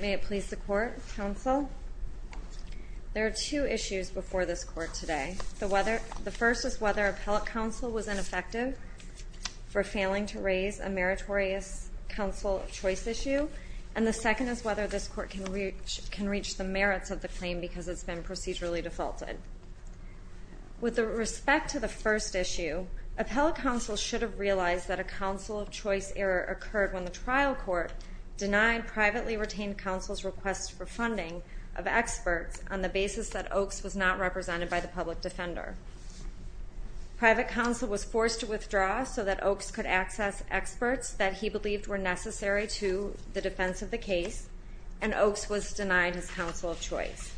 May it please the Court, Counsel. There are two issues before this Court today. The first is whether appellate counsel was ineffective for failing to raise a meritorious counsel of choice issue, and the second is whether this Court can reach the merits of the claim because it's been procedurally defaulted. With respect to the first issue, appellate counsel should have realized that a counsel of choice error occurred when the trial court denied privately retained counsel's request for funding of experts on the basis that Oaks was not represented by the public defender. Private counsel was forced to withdraw so that Oaks could access experts that he believed were necessary to the defense of the case, and Oaks was denied his counsel of choice.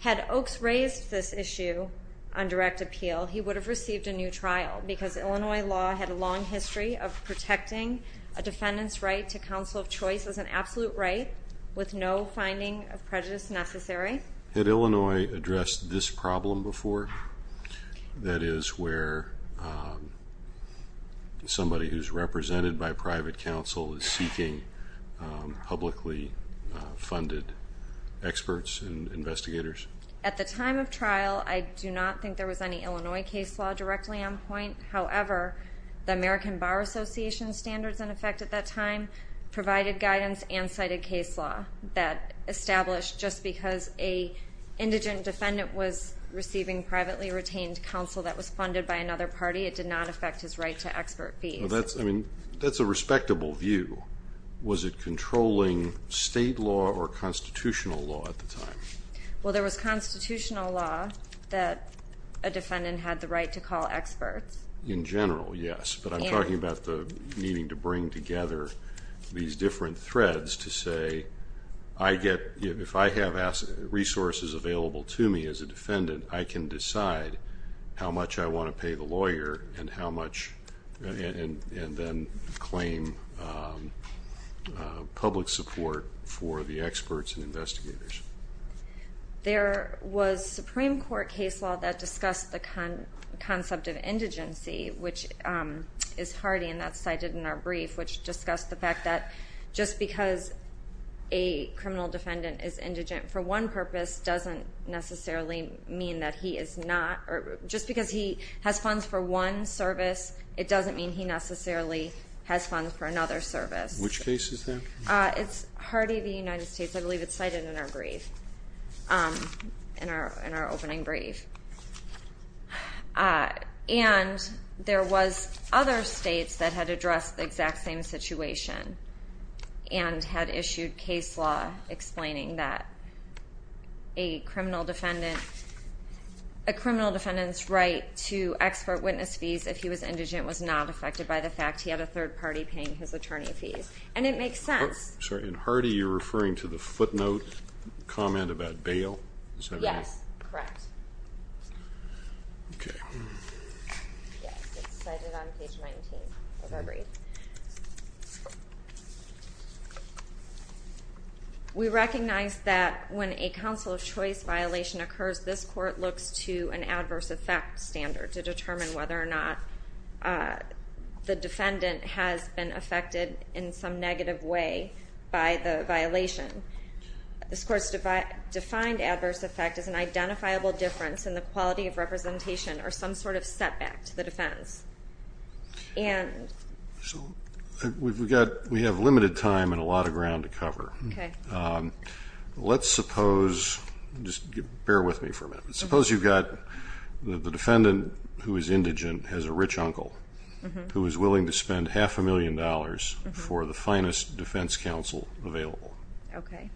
Had Oaks raised this issue on direct appeal, he would have received a new trial because Illinois law had a long history of protecting a defendant's right to counsel of choice as an absolute right with no finding of prejudice necessary. Had Illinois addressed this problem before? That is, where somebody who's represented by private counsel is seeking publicly funded experts and investigators? At the time of trial, I do not think there was any Illinois case law directly on point. However, the American Bar Association standards in effect at that time provided guidance and cited case law that established just because an indigent defendant was receiving privately retained counsel that was funded by another party, it did not affect his right to expert fees. That's a respectable view. Was it controlling state law or constitutional law at the time? Well, there was constitutional law that a defendant had the right to call experts. In general, yes, but I'm talking about needing to bring together these different threads to say, if I have resources available to me as a defendant, I can decide how much I want to pay the lawyer and then claim public support for the experts and investigators. There was Supreme Court case law that discussed the concept of indigency, which is hardy, and that's cited in our brief, which discussed the fact that just because a criminal defendant is indigent for one purpose doesn't necessarily mean that he is not. Just because he has funds for one service, it doesn't mean he necessarily has funds for another service. Which case is that? It's Hardy v. United States. I believe it's cited in our brief, in our opening brief. And there was other states that had addressed the exact same situation and had issued case law explaining that a criminal defendant's right to expert witness fees if he was indigent was not affected by the fact he had a third party paying his attorney fees. And it makes sense. Sorry, in Hardy you're referring to the footnote comment about bail? Yes, correct. Okay. Yes, it's cited on page 19 of our brief. We recognize that when a counsel of choice violation occurs, this court looks to an adverse effect standard to determine whether or not the defendant has been affected in some negative way by the violation. This court's defined adverse effect as an identifiable difference in the quality of representation or some sort of setback to the defense. We have limited time and a lot of ground to cover. Let's suppose, just bear with me for a minute, suppose you've got the defendant who is indigent has a rich uncle who is willing to spend half a million dollars for the finest defense counsel available. Okay.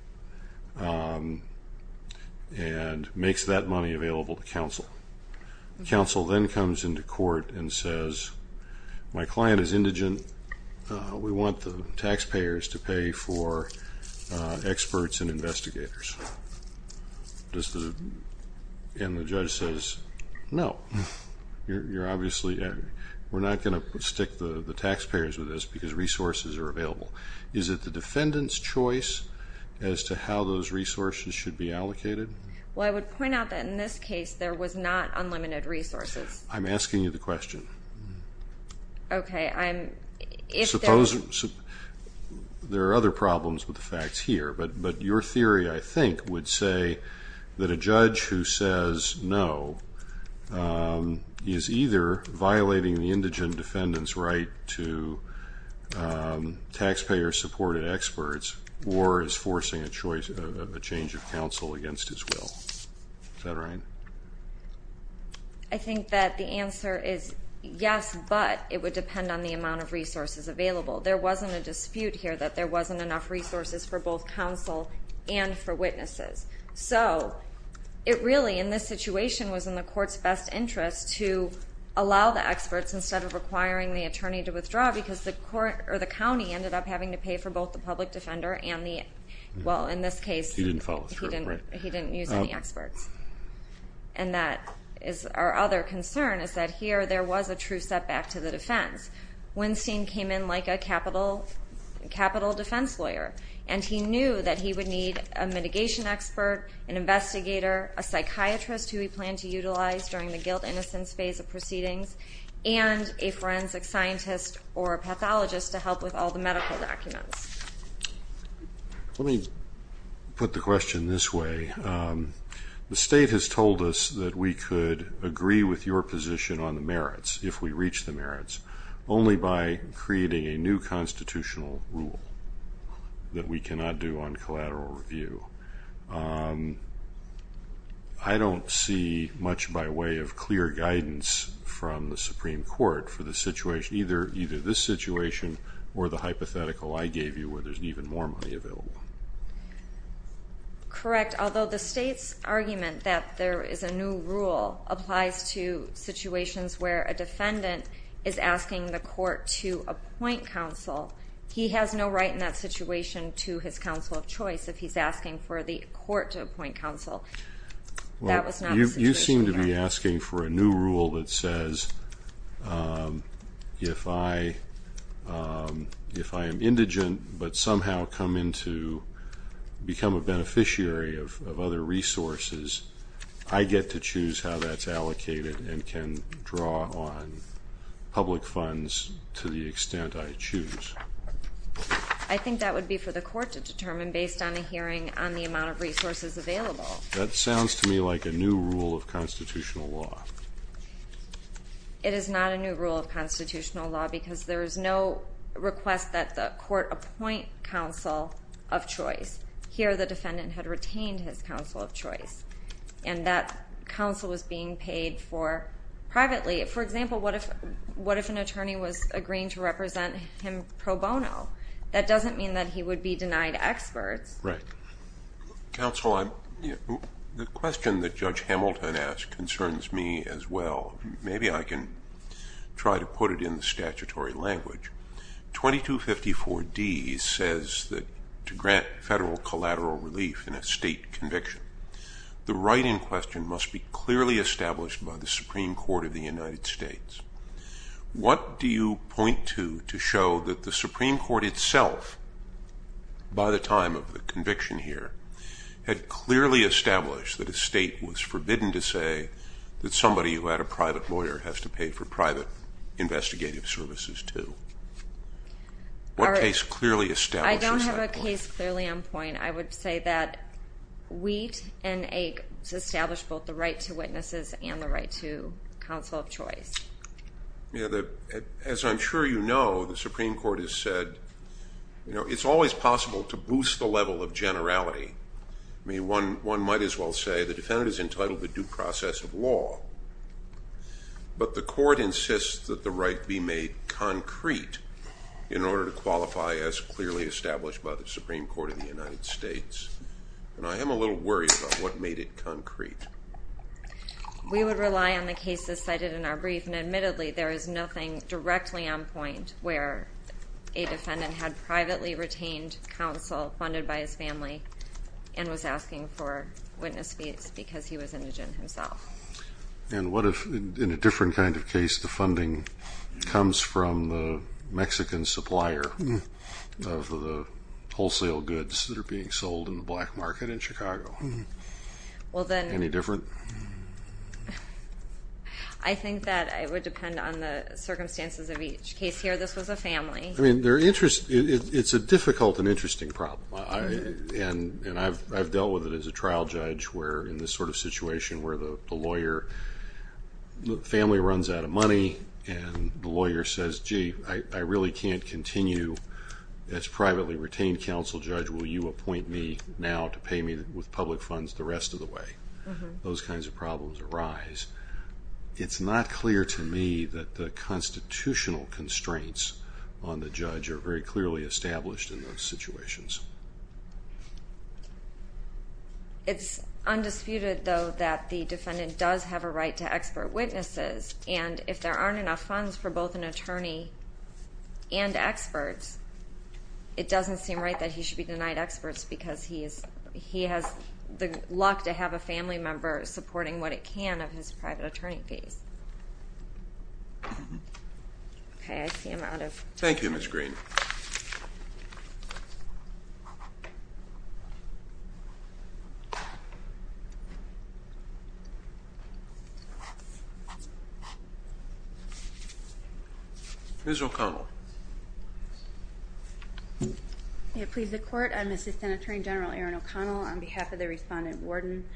And makes that money available to counsel. Counsel then comes into court and says, my client is indigent. We want the taxpayers to pay for experts and investigators. And the judge says, no, you're obviously, we're not going to stick the taxpayers with this because resources are available. Is it the defendant's choice as to how those resources should be allocated? Well, I would point out that in this case there was not unlimited resources. I'm asking you the question. Okay. Suppose there are other problems with the facts here, but your theory I think would say that a judge who says no is either violating the indigent defendant's right to taxpayer-supported experts or is forcing a change of counsel against his will. Is that right? I think that the answer is yes, but it would depend on the amount of resources available. There wasn't a dispute here that there wasn't enough resources for both counsel and for witnesses. So it really, in this situation, was in the court's best interest to allow the experts instead of requiring the attorney to withdraw because the county ended up having to pay for both the public defender and the, well, in this case, he didn't use any experts. And that is our other concern is that here there was a true setback to the defense. Winstein came in like a capital defense lawyer, and he knew that he would need a mitigation expert, an investigator, a psychiatrist who he planned to utilize during the guilt-innocence phase of proceedings, and a forensic scientist or a pathologist to help with all the medical documents. Let me put the question this way. The state has told us that we could agree with your position on the merits if we reach the merits, only by creating a new constitutional rule that we cannot do on collateral review. I don't see much by way of clear guidance from the Supreme Court for the situation, either this situation or the hypothetical I gave you where there's even more money available. Correct. Although the state's argument that there is a new rule applies to situations where a defendant is asking the court to appoint counsel, he has no right in that situation to his counsel of choice if he's asking for the court to appoint counsel. That was not the situation here. You seem to be asking for a new rule that says if I am indigent but somehow come in to become a beneficiary of other resources, I get to choose how that's allocated and can draw on public funds to the extent I choose. I think that would be for the court to determine based on a hearing on the amount of resources available. That sounds to me like a new rule of constitutional law. It is not a new rule of constitutional law because there is no request that the court appoint counsel of choice. Here the defendant had retained his counsel of choice, and that counsel was being paid for privately. For example, what if an attorney was agreeing to represent him pro bono? That doesn't mean that he would be denied experts. Right. Counsel, the question that Judge Hamilton asked concerns me as well. Maybe I can try to put it in the statutory language. 2254D says that to grant federal collateral relief in a state conviction, the right in question must be clearly established by the Supreme Court of the United States. What do you point to to show that the Supreme Court itself, by the time of the conviction here, had clearly established that a state was forbidden to say that somebody who had a private lawyer has to pay for private investigative services, too? What case clearly establishes that point? I don't have a case clearly on point. I would say that Wheat and Ake established both the right to witnesses and the right to counsel of choice. As I'm sure you know, the Supreme Court has said it's always possible to boost the level of generality. One might as well say the defendant is entitled to due process of law, but the court insists that the right be made concrete in order to qualify as clearly established by the Supreme Court of the United States. And I am a little worried about what made it concrete. We would rely on the cases cited in our brief, and admittedly there is nothing directly on point where a defendant had privately retained counsel funded by his family and was asking for witness fees because he was indigent himself. And what if, in a different kind of case, the funding comes from the Mexican supplier of the wholesale goods that are being sold in the black market in Chicago? Any different? I think that it would depend on the circumstances of each case here. This was a family. I mean, it's a difficult and interesting problem, and I've dealt with it as a trial judge where in this sort of situation where the lawyer family runs out of money and the lawyer says, gee, I really can't continue as privately retained counsel judge. Will you appoint me now to pay me with public funds the rest of the way? Those kinds of problems arise. It's not clear to me that the constitutional constraints on the judge are very clearly established in those situations. It's undisputed, though, that the defendant does have a right to expert witnesses, and if there aren't enough funds for both an attorney and experts, it doesn't seem right that he should be denied experts because he has the luck to have a family member supporting what it can of his private attorney fees. Okay. I see I'm out of time. Thank you, Ms. Green. Ms. O'Connell. May it please the Court. I'm Assistant Attorney General Erin O'Connell on behalf of the respondent warden.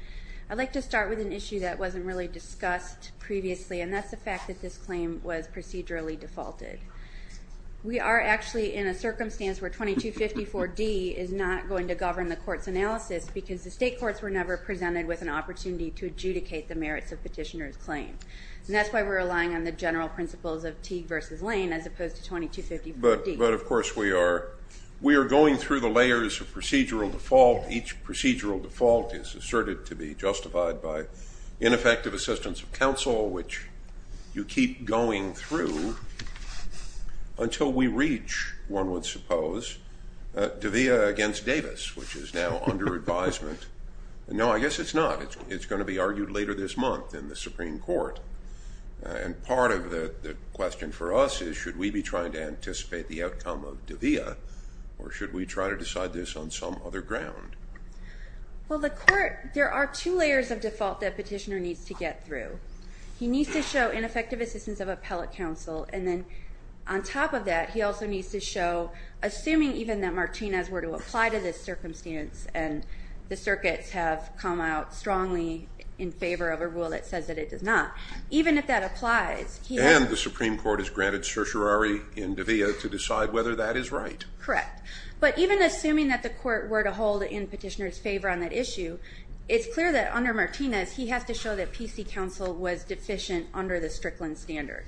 I'd like to start with an issue that wasn't really discussed previously, and that's the fact that this claim was procedurally defaulted. We are actually in a circumstance where 2254D is not going to govern the court's analysis because the state courts were never presented with an opportunity to adjudicate the merits of petitioner's claim, and that's why we're relying on the general principles of Teague v. Lane as opposed to 2254D. But of course we are. We are going through the layers of procedural default. Each procedural default is asserted to be justified by ineffective assistance of counsel, which you keep going through until we reach, one would suppose, De'Vea against Davis, which is now under advisement. No, I guess it's not. It's going to be argued later this month in the Supreme Court, and part of the question for us is should we be trying to anticipate the outcome of De'Vea or should we try to decide this on some other ground? Well, the court, there are two layers of default that petitioner needs to get through. He needs to show ineffective assistance of appellate counsel, and then on top of that he also needs to show, assuming even that Martinez were to apply to this circumstance and the circuits have come out strongly in favor of a rule that says that it does not, even if that applies, he has to. The Supreme Court has granted certiorari in De'Vea to decide whether that is right. Correct. But even assuming that the court were to hold in petitioner's favor on that issue, it's clear that under Martinez he has to show that PC counsel was deficient under the Strickland standard.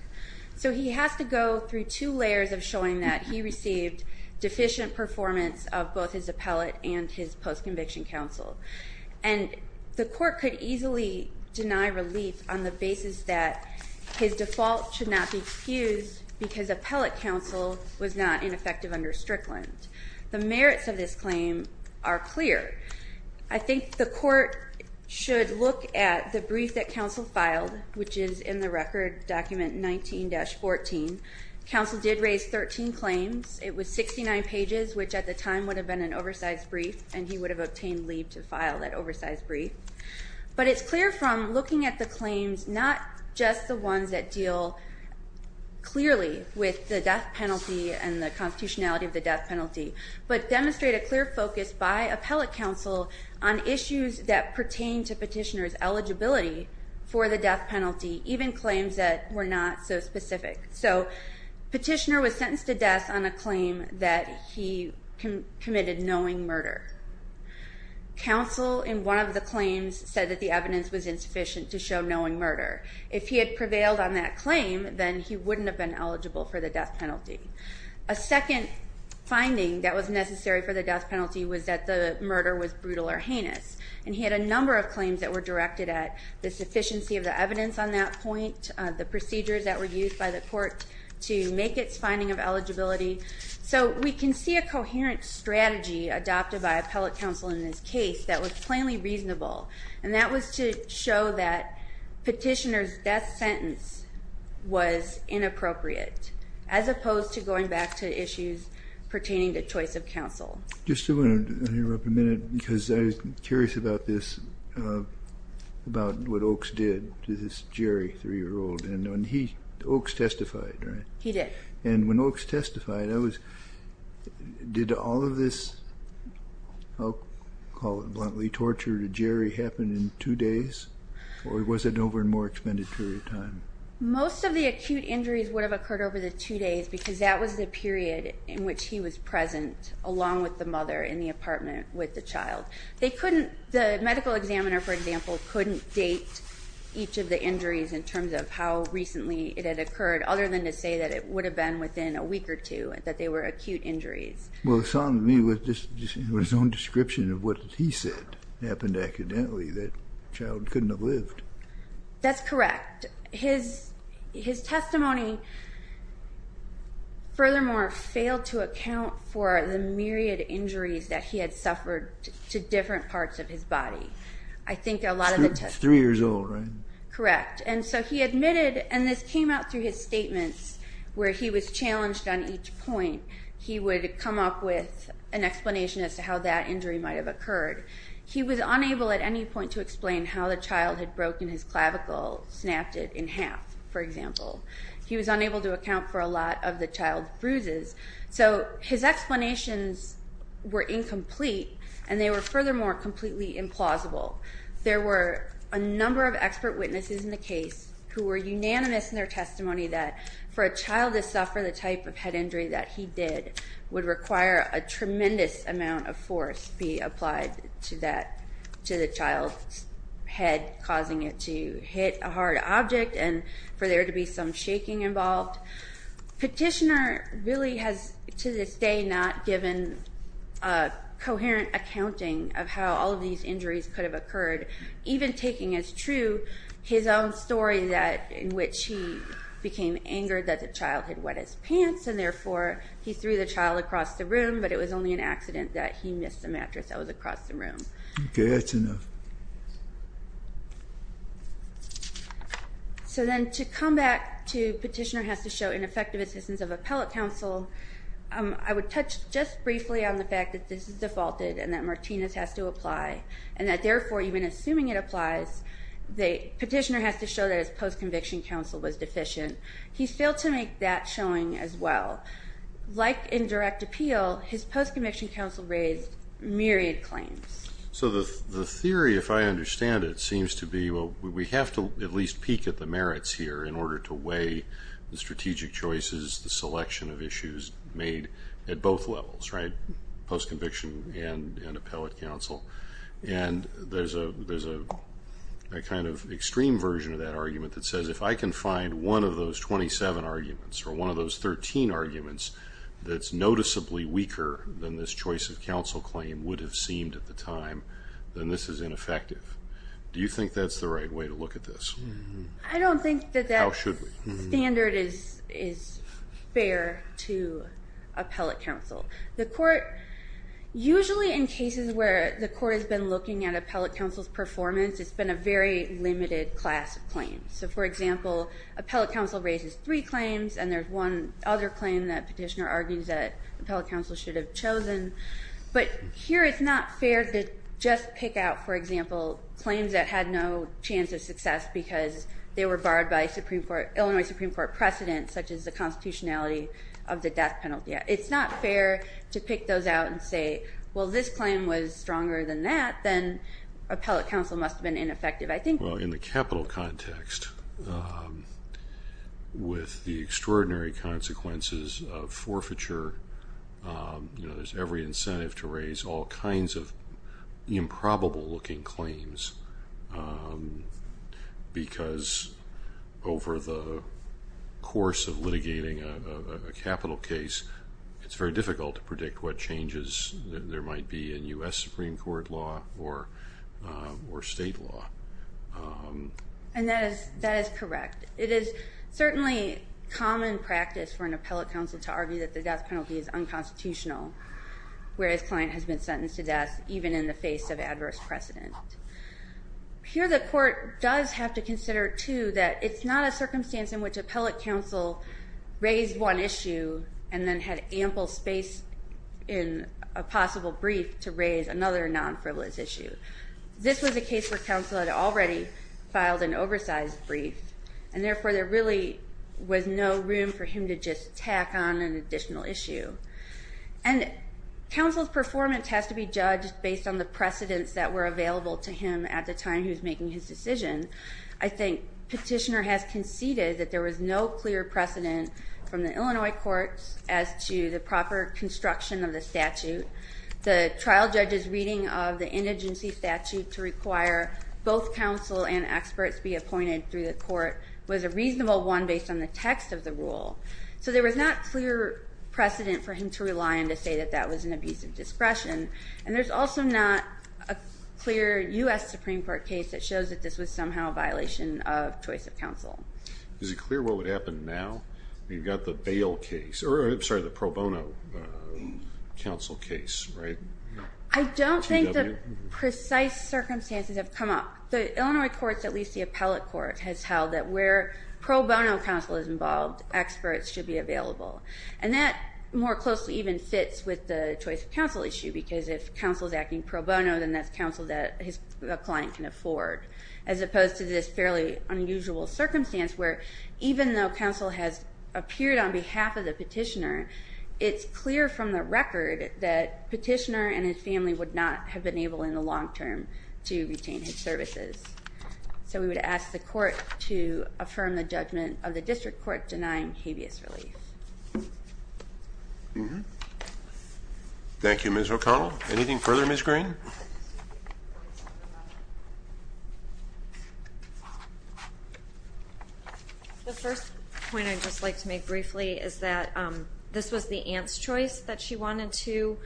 So he has to go through two layers of showing that he received deficient performance of both his appellate and his post-conviction counsel. And the court could easily deny relief on the basis that his default should not be excused because appellate counsel was not ineffective under Strickland. The merits of this claim are clear. I think the court should look at the brief that counsel filed, which is in the record document 19-14. Counsel did raise 13 claims. It was 69 pages, which at the time would have been an oversized brief, and he would have obtained leave to file that oversized brief. But it's clear from looking at the claims, not just the ones that deal clearly with the death penalty and the constitutionality of the death penalty, but demonstrate a clear focus by appellate counsel on issues that pertain to petitioner's eligibility for the death penalty, even claims that were not so specific. So petitioner was sentenced to death on a claim that he committed knowing murder. Counsel in one of the claims said that the evidence was insufficient to show knowing murder. If he had prevailed on that claim, then he wouldn't have been eligible for the death penalty. A second finding that was necessary for the death penalty was that the murder was brutal or heinous. And he had a number of claims that were directed at the sufficiency of the evidence on that point, the procedures that were used by the court to make its finding of eligibility. So we can see a coherent strategy adopted by appellate counsel in this case that was plainly reasonable, and that was to show that petitioner's death sentence was inappropriate, as opposed to going back to issues pertaining to choice of counsel. Just to interrupt a minute, because I was curious about this, about what Oakes did to this Jerry, three-year-old, and Oakes testified, right? He did. And when Oakes testified, did all of this, I'll call it bluntly torture to Jerry, happen in two days, or was it over a more extended period of time? Most of the acute injuries would have occurred over the two days, because that was the period in which he was present along with the mother in the apartment with the child. They couldn't, the medical examiner, for example, couldn't date each of the injuries in terms of how recently it had occurred, other than to say that it would have been within a week or two, that they were acute injuries. Well, it sounded to me with his own description of what he said happened accidentally, that the child couldn't have lived. That's correct. His testimony, furthermore, failed to account for the myriad injuries that he had suffered to different parts of his body. I think a lot of the testimony. Three years old, right? Correct. And so he admitted, and this came out through his statements, where he was challenged on each point. He would come up with an explanation as to how that injury might have occurred. He was unable at any point to explain how the child had broken his clavicle, snapped it in half, for example. He was unable to account for a lot of the child's bruises. So his explanations were incomplete, and they were, furthermore, completely implausible. There were a number of expert witnesses in the case who were unanimous in their testimony that for a child to suffer the type of head injury that he did would require a tremendous amount of force be applied to the child's head, causing it to hit a hard object and for there to be some shaking involved. Petitioner really has, to this day, not given a coherent accounting of how all of these injuries could have occurred, even taking as true his own story in which he became angered that the child had wet his pants, and therefore he threw the child across the room, but it was only an accident that he missed the mattress that was across the room. Okay, that's enough. So then to come back to Petitioner has to show ineffective assistance of appellate counsel, I would touch just briefly on the fact that this is defaulted and that Martinez has to apply, and that therefore, even assuming it applies, Petitioner has to show that his post-conviction counsel was deficient. He failed to make that showing as well. Like in direct appeal, his post-conviction counsel raised myriad claims. So the theory, if I understand it, seems to be, well, we have to at least peek at the merits here in order to weigh the strategic choices, the selection of issues made at both levels, right, post-conviction and appellate counsel. And there's a kind of extreme version of that argument that says if I can find one of those 27 arguments or one of those 13 arguments that's noticeably weaker than this choice of counsel claim would have seemed at the time, then this is ineffective. Do you think that's the right way to look at this? I don't think that that standard is fair to appellate counsel. The court, usually in cases where the court has been looking at appellate counsel's performance, it's been a very limited class of claims. So, for example, appellate counsel raises three claims, and there's one other claim that Petitioner argues that appellate counsel should have chosen. But here it's not fair to just pick out, for example, claims that had no chance of success because they were barred by Illinois Supreme Court precedent, such as the constitutionality of the death penalty. It's not fair to pick those out and say, well, this claim was stronger than that, then appellate counsel must have been ineffective. Well, in the capital context, with the extraordinary consequences of forfeiture, there's every incentive to raise all kinds of improbable-looking claims because over the course of litigating a capital case, it's very difficult to predict what changes there might be in U.S. Supreme Court law or state law. And that is correct. It is certainly common practice for an appellate counsel to argue that the death penalty is unconstitutional, whereas a client has been sentenced to death even in the face of adverse precedent. Here the court does have to consider, too, that it's not a circumstance in which appellate counsel raised one issue and then had ample space in a possible brief to raise another non-frivolous issue. This was a case where counsel had already filed an oversized brief, and therefore there really was no room for him to just tack on an additional issue. And counsel's performance has to be judged based on the precedents that were available to him at the time he was making his decision. I think Petitioner has conceded that there was no clear precedent from the Illinois courts as to the proper construction of the statute. The trial judge's reading of the indigency statute to require both counsel and experts be appointed through the court was a reasonable one based on the text of the rule. So there was not clear precedent for him to rely on to say that that was an abuse of discretion. And there's also not a clear U.S. Supreme Court case that shows that this was somehow a violation of choice of counsel. Is it clear what would happen now? You've got the bail case, or I'm sorry, the pro bono counsel case, right? I don't think the precise circumstances have come up. The Illinois courts, at least the appellate court, has held that where pro bono counsel is involved, experts should be available. And that more closely even fits with the choice of counsel issue, because if counsel is acting pro bono, then that's counsel that a client can afford, as opposed to this fairly unusual circumstance where even though counsel has appeared on behalf of the petitioner, it's clear from the record that petitioner and his family would not have been able in the long term to retain his services. So we would ask the court to affirm the judgment of the district court denying habeas relief. Thank you, Ms. O'Connell. Anything further, Ms. Green? The first point I'd just like to make briefly is that this was the aunt's choice, that she wanted to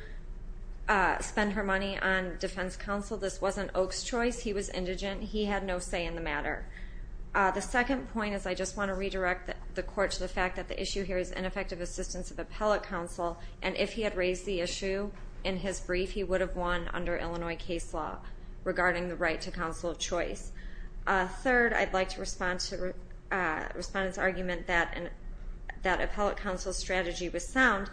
spend her money on defense counsel. This wasn't Oak's choice. He was indigent. He had no say in the matter. The second point is I just want to redirect the court to the fact that the issue here is ineffective assistance of appellate counsel, and if he had raised the issue in his brief, he would have won under Illinois case law regarding the right to counsel of choice. Third, I'd like to respond to the respondent's argument that appellate counsel's strategy was sound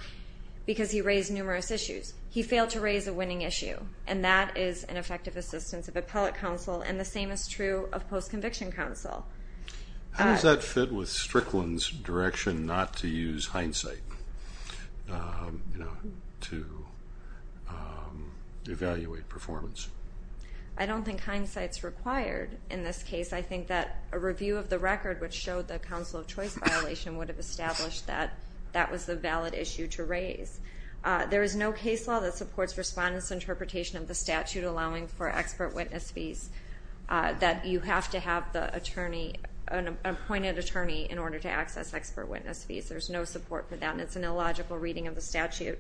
because he raised numerous issues. He failed to raise a winning issue, and that is ineffective assistance of appellate counsel, and the same is true of post-conviction counsel. How does that fit with Strickland's direction not to use hindsight to evaluate performance? I don't think hindsight is required in this case. I think that a review of the record, which showed the counsel of choice violation, would have established that that was the valid issue to raise. There is no case law that supports respondents' interpretation of the statute allowing for expert witness fees, that you have to have an appointed attorney in order to access expert witness fees. There's no support for that, and it's an illogical reading of the statute.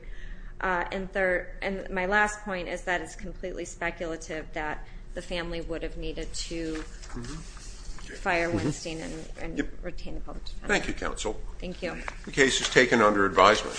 And my last point is that it's completely speculative that the family would have needed to fire Winstein and retain the public defense. Thank you, counsel. Thank you. The case is taken under advisement.